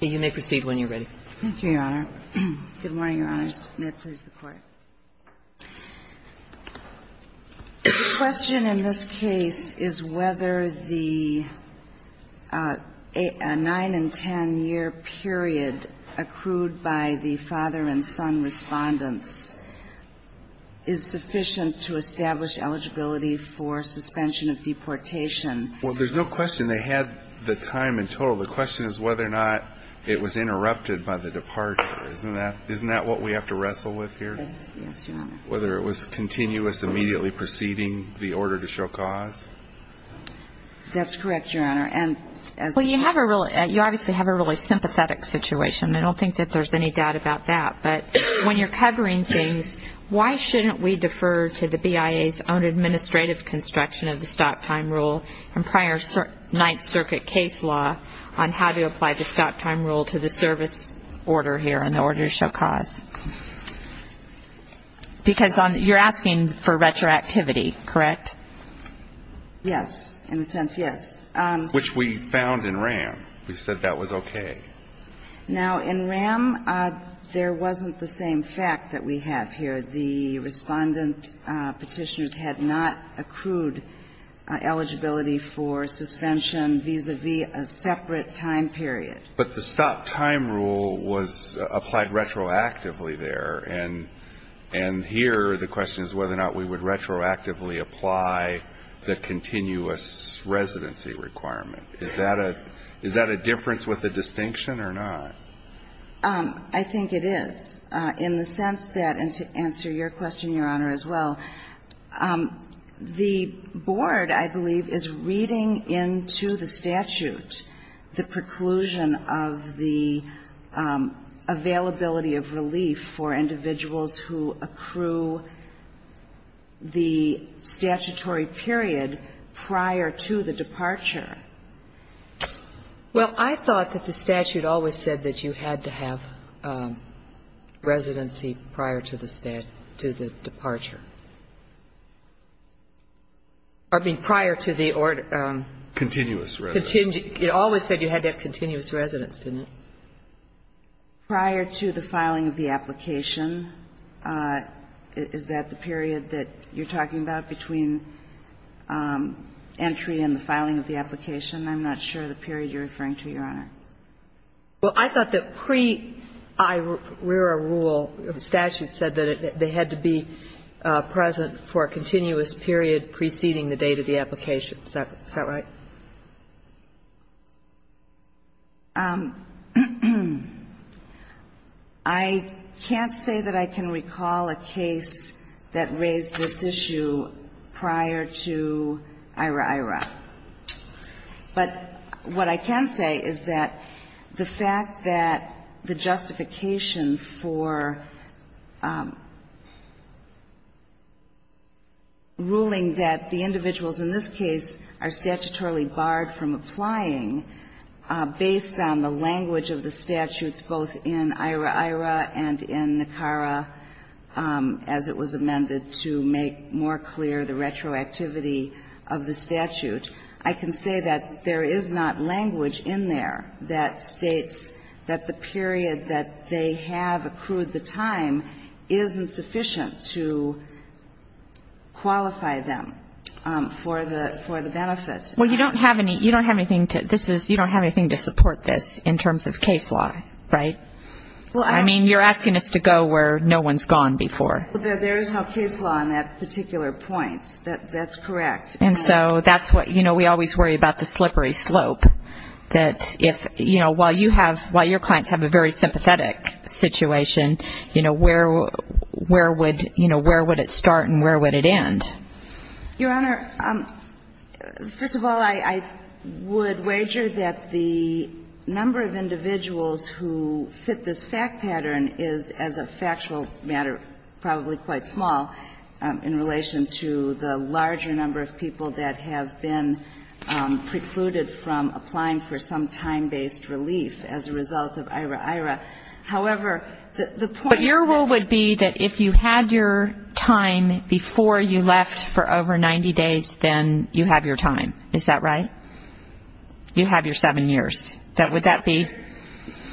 The question in this case is whether the 9 and 10 year period accrued by the father and son respondents is sufficient to establish eligibility for suspension of deportation. Well, there's no question they had the time in total. The question is whether or not it was interrupted by the departure. Isn't that what we have to wrestle with here? Yes, Your Honor. Whether it was continuous, immediately preceding the order to show cause? That's correct, Your Honor. Well, you obviously have a really sympathetic situation. I don't think that there's any doubt about that. But when you're covering things, why shouldn't we defer to the BIA's own administrative construction of the stop time rule and prior Ninth Circuit case law on how to apply the stop time rule to the service order here and the order to show cause? Because you're asking for retroactivity, correct? Yes. In a sense, yes. Which we found in RAM. We said that was okay. Now, in RAM, there wasn't the same fact that we have here. The respondent Petitioners had not accrued eligibility for suspension vis-à-vis a separate time period. But the stop time rule was applied retroactively there. And here, the question is whether or not we would retroactively apply the continuous residency requirement. Is that a difference with a distinction or not? I think it is, in the sense that, and to answer your question, Your Honor, as well, the board, I believe, is reading into the statute the preclusion of the availability of relief for individuals who accrue the statutory period prior to the departure. Well, I thought that the statute always said that you had to have residency prior to the departure. I mean, prior to the order. Continuous residency. It always said you had to have continuous residence, didn't it? Prior to the filing of the application. Is that the period that you're talking about between entry and the filing of the application? I'm not sure of the period you're referring to, Your Honor. Well, I thought that pre-IRERA rule, the statute said that they had to be present for a continuous period preceding the date of the application. Is that right? I can't say that I can recall a case that raised this issue prior to IRAIRA. But what I can say is that the fact that the justification for ruling that the individuals in this case are statutorily barred from applying based on the language of the statutes both in IRAIRA and in NACARA as it was amended to make more clear the retroactivity of the statute, I can say that there is not language in there that states that the period that they have accrued the time isn't sufficient to qualify them for the benefit. Well, you don't have anything to support this in terms of case law, right? Well, I don't. I mean, you're asking us to go where no one's gone before. There is no case law on that particular point. That's correct. And so that's what, you know, we always worry about the slippery slope, that if, you know, while your clients have a very sympathetic situation, you know, where would it start and where would it end? Your Honor, first of all, I would wager that the number of individuals who fit this fact pattern is, as a factual matter, probably quite small in relation to the larger number of people that have been precluded from applying for some time-based relief as a result of IRAIRA. However, the point is that But your rule would be that if you had your time before you left for over 90 days, then you have your time. Is that right? You have your seven years. Would that be?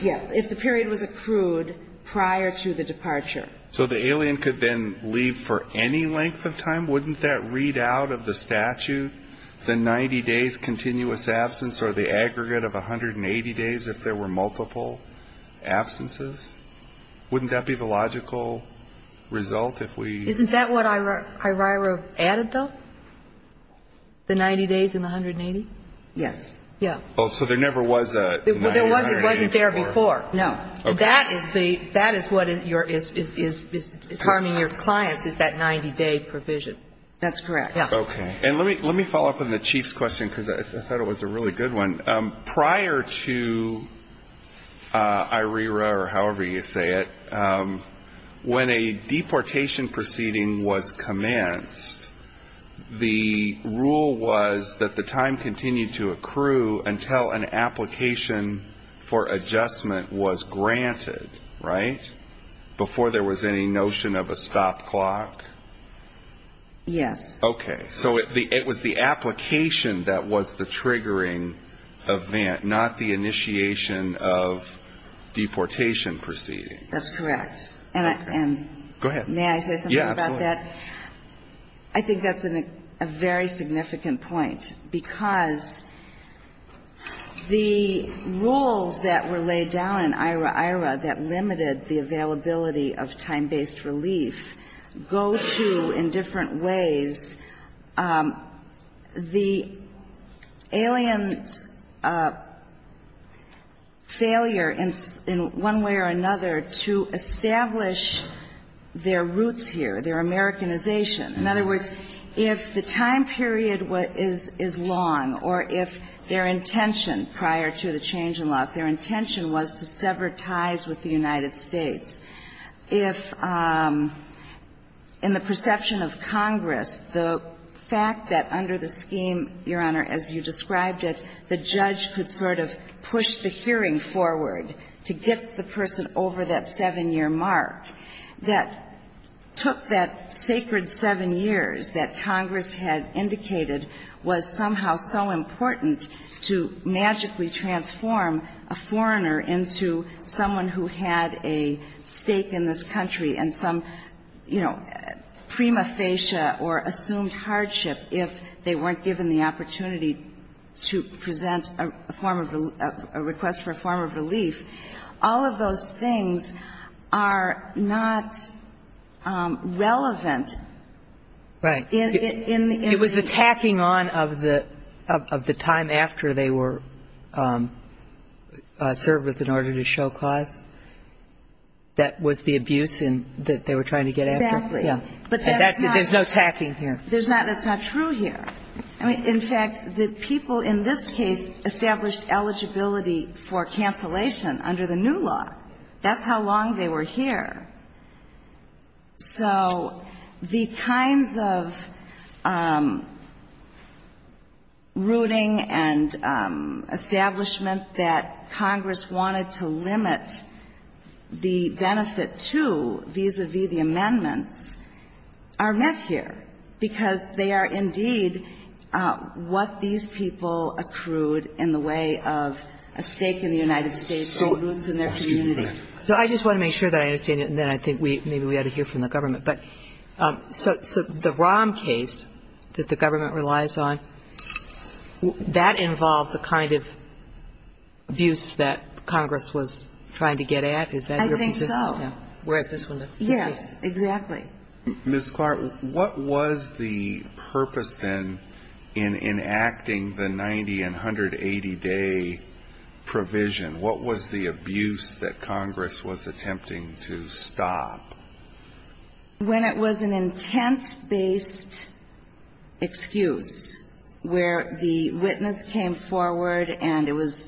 Yeah, if the period was accrued prior to the departure. So the alien could then leave for any length of time? Wouldn't that read out of the statute the 90 days continuous absence or the aggregate of 180 days if there were multiple absences? Wouldn't that be the logical result if we Isn't that what IRAIRA added, though? The 90 days and the 180? Yes. Yeah. So there never was a It wasn't there before. No. Okay. That is what is harming your clients is that 90-day provision. That's correct. Yeah. Okay. And let me follow up on the Chief's question because I thought it was a really good one. Prior to IRAIRA or however you say it, when a deportation proceeding was commenced, the rule was that the time continued to accrue until an application for adjustment was granted, right, before there was any notion of a stop clock? Yes. Okay. So it was the application that was the triggering event, not the initiation of deportation proceedings. That's correct. And I Go ahead. May I say something about that? Yeah, absolutely. I think that's a very significant point because the rules that were laid down in IRAIRA that limited the availability of time-based relief go to, in different ways, the aliens' failure in one way or another to establish their roots here, their Americanization. In other words, if the time period is long or if their intention prior to the change in law, if their intention was to sever ties with the country, then the time period would be long. And so I think that in the perception of Congress, the fact that under the scheme, Your Honor, as you described it, the judge could sort of push the hearing forward to get the person over that 7-year mark, that took that sacred 7 years that Congress had indicated was somehow so important to magically transform a foreigner into someone who had a stake in this country and some, you know, prima facie or assumed hardship if they weren't given the opportunity to present a form of a request for a form of relief, all of those things are not relevant. It was the tacking on of the time after they were served with an order to show cause that was the abuse that they were trying to get after? Exactly. Yeah. There's no tacking here. That's not true here. I mean, in fact, the people in this case established eligibility for cancellation under the new law. That's how long they were here. So the kinds of rooting and establishment that Congress wanted to limit the benefit to, vis-à-vis the amendments, are met here, because they are indeed what these people accrued in the way of a stake in the United States or roots in their community. So I just want to make sure that I understand it, and then I think maybe we ought to hear from the government. But so the Rahm case that the government relies on, that involved the kind of abuse that Congress was trying to get at? Is that your position? I think so. Whereas this one doesn't. Yes, exactly. Ms. Clark, what was the purpose then in enacting the 90- and 180-day provision? What was the abuse that Congress was attempting to stop? When it was an intent-based excuse where the witness came forward and it was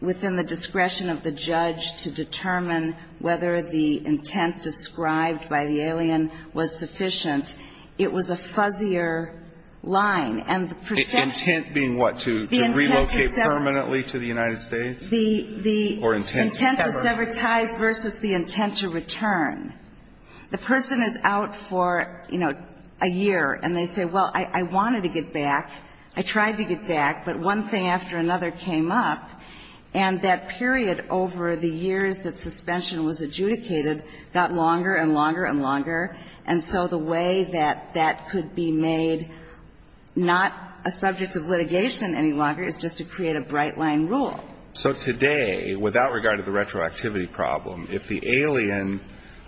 within the discretion of the judge to determine whether the intent described by the alien was sufficient, it was a fuzzier line. And the perception of the intent is separate. The intent being what, to relocate permanently to the United States? The intent to sever ties versus the intent to return. The person is out for, you know, a year, and they say, well, I wanted to get back. I tried to get back, but one thing after another came up. And that period over the years that suspension was adjudicated got longer and longer and longer, and so the way that that could be made not a subject of litigation any longer is just to create a bright-line rule. So today, without regard to the retroactivity problem, if the alien,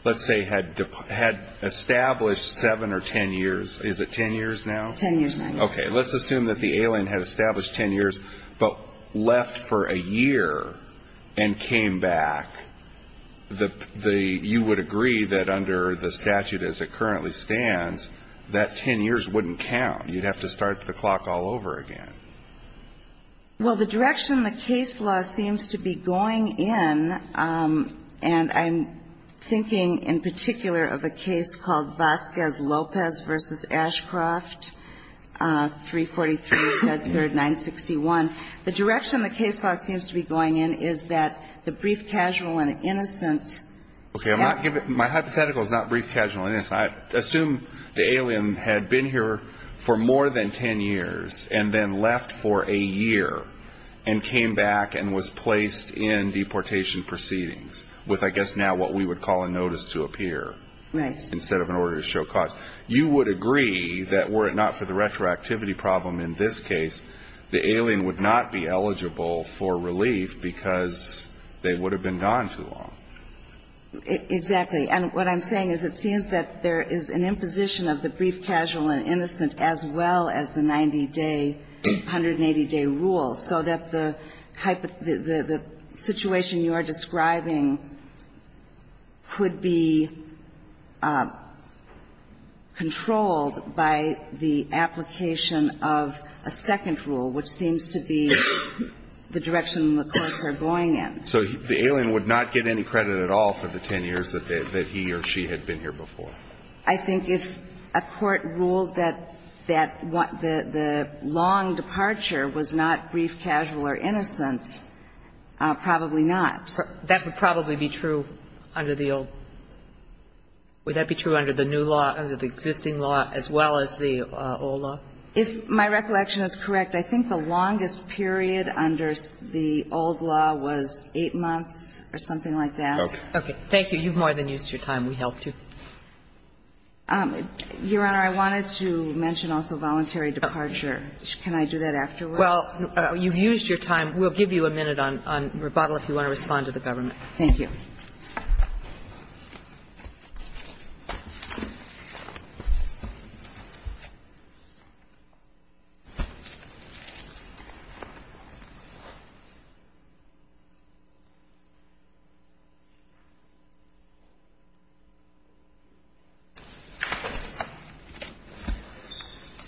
let's say, had established seven or ten years, is it ten years now? Ten years now, yes. Okay. Let's assume that the alien had established ten years but left for a year and came back. You would agree that under the statute as it currently stands, that ten years wouldn't count. You'd have to start the clock all over again. Well, the direction the case law seems to be going in, and I'm thinking in particular of a case called Vasquez-Lopez v. Ashcroft, 343, Head Third, 961. The direction the case law seems to be going in is that the brief, casual, and innocent. Okay. My hypothetical is not brief, casual, and innocent. I assume the alien had been here for more than ten years and then left for a year and came back and was placed in deportation proceedings with, I guess now, what we would call a notice to appear instead of an order to show cause. You would agree that were it not for the retroactivity problem in this case, the alien would not be eligible for relief because they would have been gone too long. Exactly. And what I'm saying is it seems that there is an imposition of the brief, casual, and innocent as well as the 90-day, 180-day rule, so that the situation you are describing could be controlled by the application of a second rule, which seems to be the direction the courts are going in. So the alien would not get any credit at all for the ten years that he or she had been here before. I think if a court ruled that the long departure was not brief, casual, or innocent, probably not. That would probably be true under the old. Would that be true under the new law, under the existing law, as well as the old law? If my recollection is correct, I think the longest period under the old law was 8 months or something like that. Okay. Thank you. You've more than used your time. We helped you. Your Honor, I wanted to mention also voluntary departure. Can I do that afterwards? Well, you've used your time. We'll give you a minute on rebuttal if you want to respond to the government. Thank you.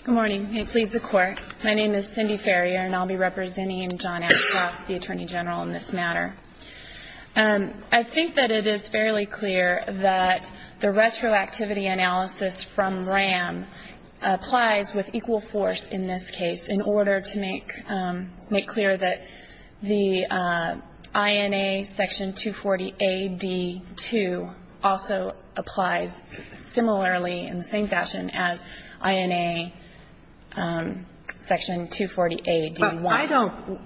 Good morning. May it please the Court. My name is Cindy Farrier, and I'll be representing John Ashcroft, the Attorney General, in this matter. I think that it is fairly clear that the retroactivity analysis from RAM applies with equal force in this case in order to make clear that the INA Section 240A-D2 also applies similarly in the same fashion as INA Section 240A-D1.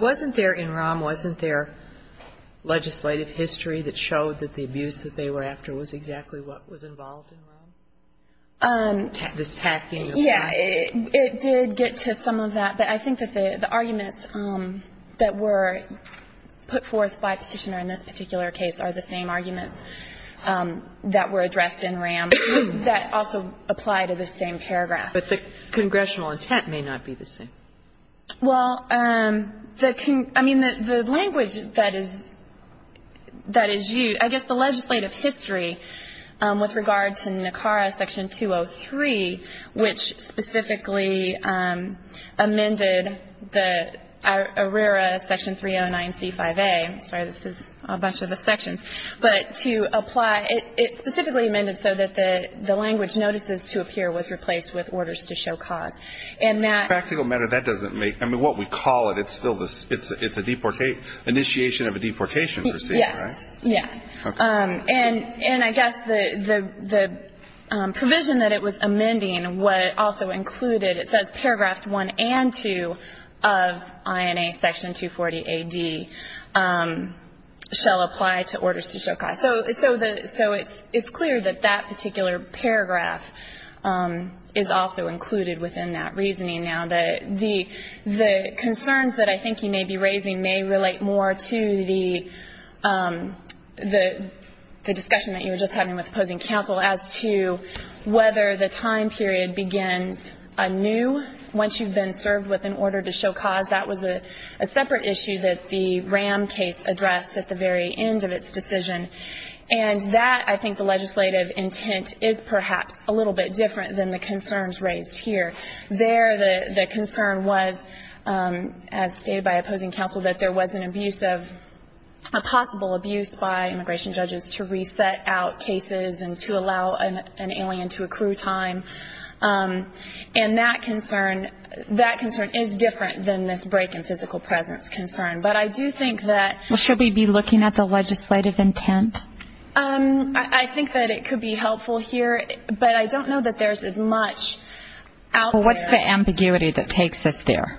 Wasn't there in RAM, wasn't there legislative history that showed that the abuse that they were after was exactly what was involved in RAM, this hacking of RAM? Yeah. It did get to some of that. But I think that the arguments that were put forth by Petitioner in this particular case are the same arguments that were addressed in RAM that also apply to the same paragraph. But the congressional intent may not be the same. Well, I mean, the language that is used, I guess the legislative history with regard to NACARA Section 203, which specifically amended the ARERA Section 309C5A. Sorry, this is a bunch of the sections. But to apply, it specifically amended so that the language notices to appear was replaced with orders to show cause. Practical matter, that doesn't make, I mean, what we call it, it's still the, it's an initiation of a deportation proceeding, right? Yes. Yeah. And I guess the provision that it was amending, what it also included, it says paragraphs 1 and 2 of INA Section 240A-D shall apply to orders to show cause. So it's clear that that particular paragraph is also included within that reasoning now. The concerns that I think you may be raising may relate more to the discussion that you were just having with opposing counsel as to whether the time period begins anew once you've been served with an order to show cause. That was a separate issue that the RAM case addressed at the very end of its decision. And that, I think, the legislative intent is perhaps a little bit different than the concerns raised here. There, the concern was, as stated by opposing counsel, that there was an abuse of, a possible abuse by immigration judges to reset out cases and to allow an alien to accrue time. And that concern, that concern is different than this break in physical presence concern. But I do think that. Well, should we be looking at the legislative intent? I think that it could be helpful here, but I don't know that there's as much out there. Well, what's the ambiguity that takes us there?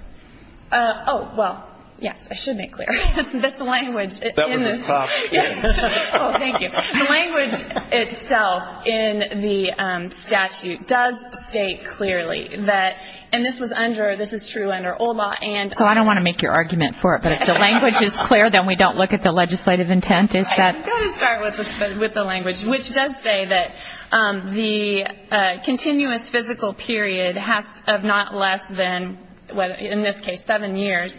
Oh, well, yes. I should make clear. That's the language in this. That was a tough challenge. Oh, thank you. The language itself in the statute does state clearly that, and this was under, this is true under old law and. So I don't want to make your argument for it, but if the language is clear, then we don't look at the legislative intent, is that. I'm going to start with the language, which does say that the continuous physical period of not less than, in this case, seven years,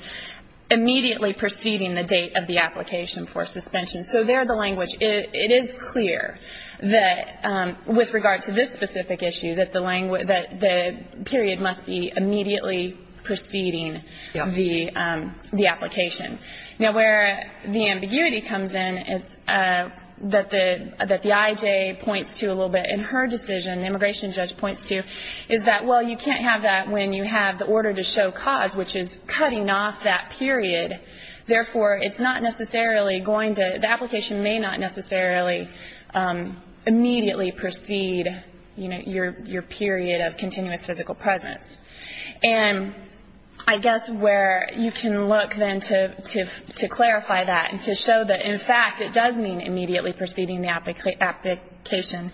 immediately preceding the date of the application for suspension. So there the language. It is clear that, with regard to this specific issue, that the period must be immediately preceding the application. Now, where the ambiguity comes in, that the IJ points to a little bit in her decision, the immigration judge points to, is that, well, you can't have that when you have the order to show cause, which is cutting off that period. Therefore, it's not necessarily going to, the application may not necessarily immediately precede, you know, your period of continuous physical presence. And I guess where you can look then to clarify that and to show that, in fact, it does mean immediately preceding the application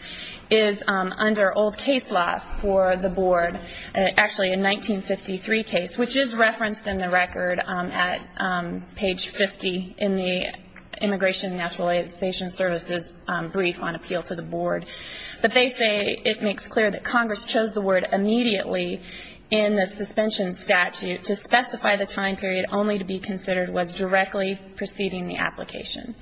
is under old case law for the board, actually a 1953 case, which is referenced in the record at page 50 in the Immigration and Naturalization Services brief on appeal to the board. But they say it makes clear that Congress chose the word immediately in the suspension statute to specify the time period only to be considered was directly preceding the application.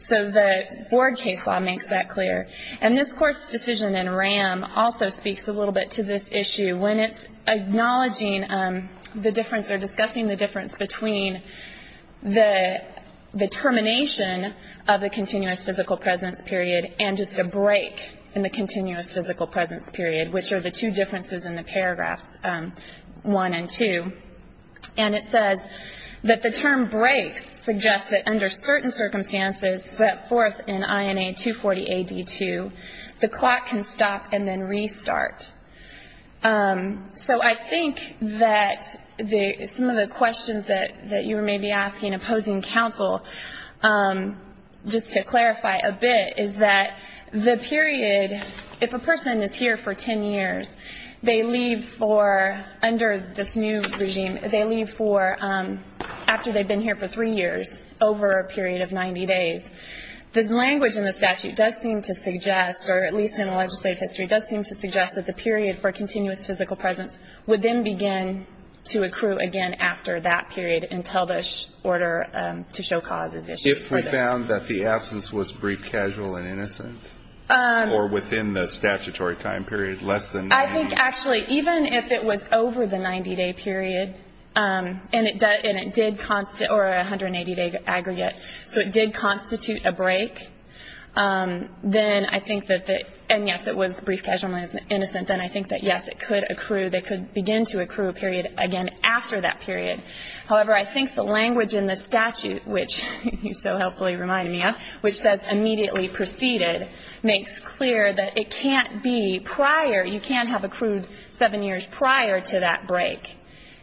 So the board case law makes that clear. And this Court's decision in RAM also speaks a little bit to this issue when it's acknowledging the difference or discussing the difference between the termination of the continuous physical presence period and just a break in the continuous physical presence period, which are the two differences in the paragraphs 1 and 2. And it says that the term breaks suggests that under certain circumstances, set forth in INA 240 AD2, the clock can stop and then restart. So I think that some of the questions that you may be asking opposing counsel, just to clarify a bit, is that the period, if a person is here for 10 years, they leave for, under this new regime, they leave for, after they've been here for 10 years, this language in the statute does seem to suggest, or at least in the legislative history, does seem to suggest that the period for continuous physical presence would then begin to accrue again after that period until the order to show cause is issued further. If we found that the absence was brief, casual, and innocent, or within the statutory time period less than 90 days? I think, actually, even if it was over the 90-day period, and it did constitute or 180-day aggregate, so it did constitute a break, then I think that the, and yes, it was brief, casual, and innocent, then I think that, yes, it could accrue, they could begin to accrue a period again after that period. However, I think the language in the statute, which you so helpfully reminded me of, which says immediately preceded, makes clear that it can't be prior, you can't have accrued seven years prior to that break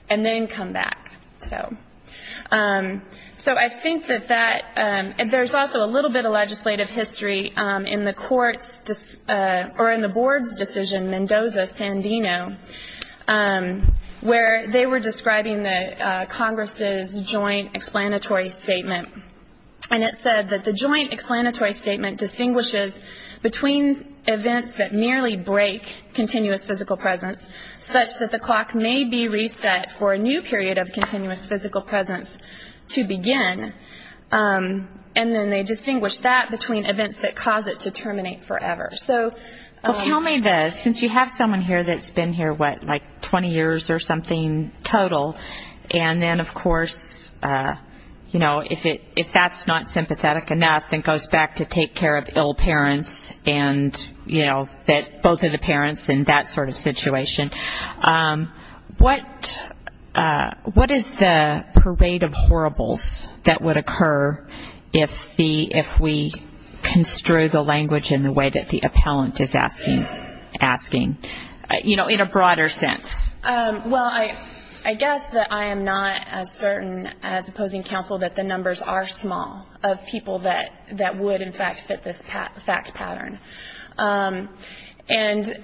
and then come back. So I think that that, and there's also a little bit of legislative history in the court's, or in the board's decision, Mendoza-Sandino, where they were describing the Congress's joint explanatory statement. And it said that the joint explanatory statement distinguishes between events that merely break continuous physical presence such that the clock may be reset for a new period of continuous physical presence to begin, and then they distinguish that between events that cause it to terminate forever. Well, tell me the, since you have someone here that's been here, what, like 20 years or something total, and then, of course, you know, if that's not sympathetic enough, then goes back to take care of ill parents and, you know, both of the parents in that sort of situation. What is the parade of horribles that would occur if the, if we construe the language in the way that the appellant is asking, you know, in a broader sense? Well, I guess that I am not as certain as opposing counsel that the numbers are small of people that would, in fact, fit this fact pattern. And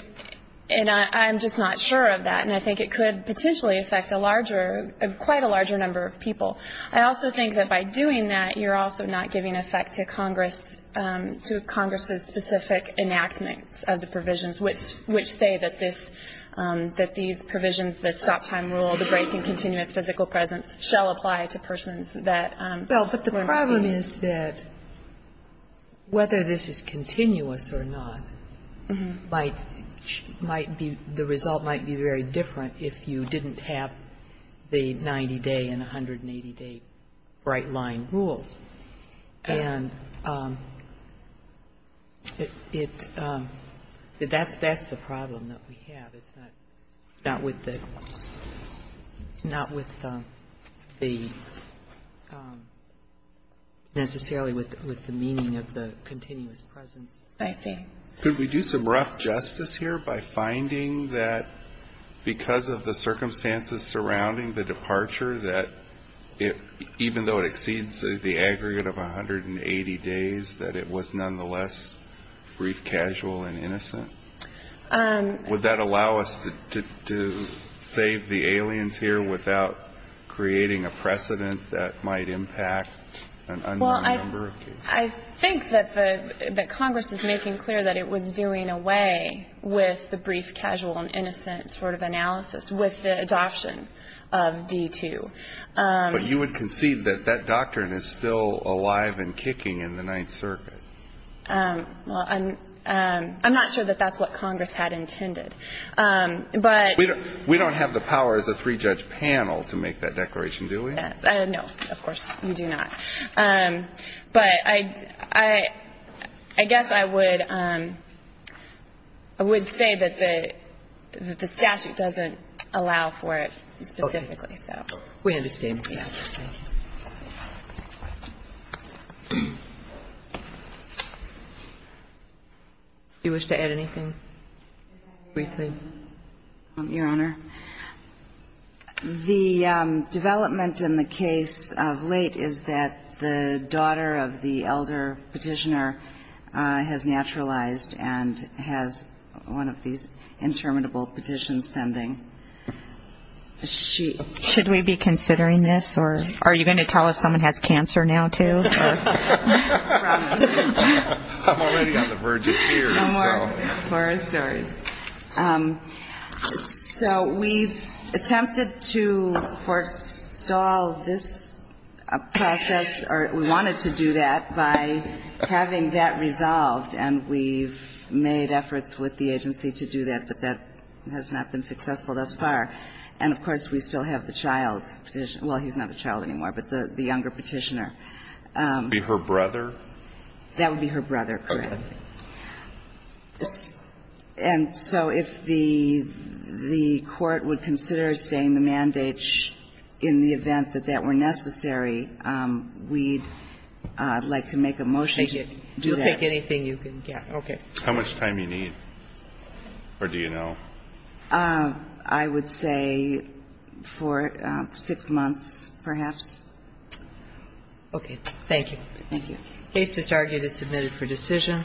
I'm just not sure of that, and I think it could potentially affect a larger, quite a larger number of people. I also think that by doing that, you're also not giving effect to Congress, to Congress's specific enactment of the provisions, which say that this, that these provisions, this stop-time rule, the break in continuous physical presence shall apply to persons that weren't seen. The problem is that whether this is continuous or not might, might be, the result might be very different if you didn't have the 90-day and 180-day bright-line rules. And it, that's, that's the problem that we have. But it's not, not with the, not with the, necessarily with, with the meaning of the continuous presence. I see. Could we do some rough justice here by finding that because of the circumstances surrounding the departure, that it, even though it exceeds the aggregate of 180 days, that it was nonetheless brief, casual, and innocent? Would that allow us to, to save the aliens here without creating a precedent that might impact an unknown number of people? Well, I, I think that the, that Congress is making clear that it was doing away with the brief, casual, and innocent sort of analysis with the adoption of D-2. But you would concede that that doctrine is still alive and kicking in the Ninth Circuit? Well, I'm, I'm not sure that that's what Congress had intended. But. We don't have the power as a three-judge panel to make that declaration, do we? No, of course you do not. But I, I, I guess I would, I would say that the, that the statute doesn't allow for it specifically, so. Okay. We understand. We understand. Do you wish to add anything, briefly? Your Honor, the development in the case of late is that the daughter of the elder petitioner has naturalized and has one of these interminable petitions pending. Should we be considering this? Or are you going to tell us someone has cancer now, too? I'm already on the verge of tears. Some more horror stories. So we've attempted to forestall this process, or we wanted to do that, by having that resolved. And we've made efforts with the agency to do that. But that has not been successful thus far. And, of course, we still have the child petitioner. Well, he's not a child anymore, but the younger petitioner. Would it be her brother? That would be her brother, correct. Okay. And so if the, the court would consider staying the mandate in the event that that were necessary, we'd like to make a motion to do that. Take it. You'll take anything you can get. Okay. How much time do you need? Or do you know? I would say for six months, perhaps. Okay. Thank you. Thank you. Case disargued is submitted for decision.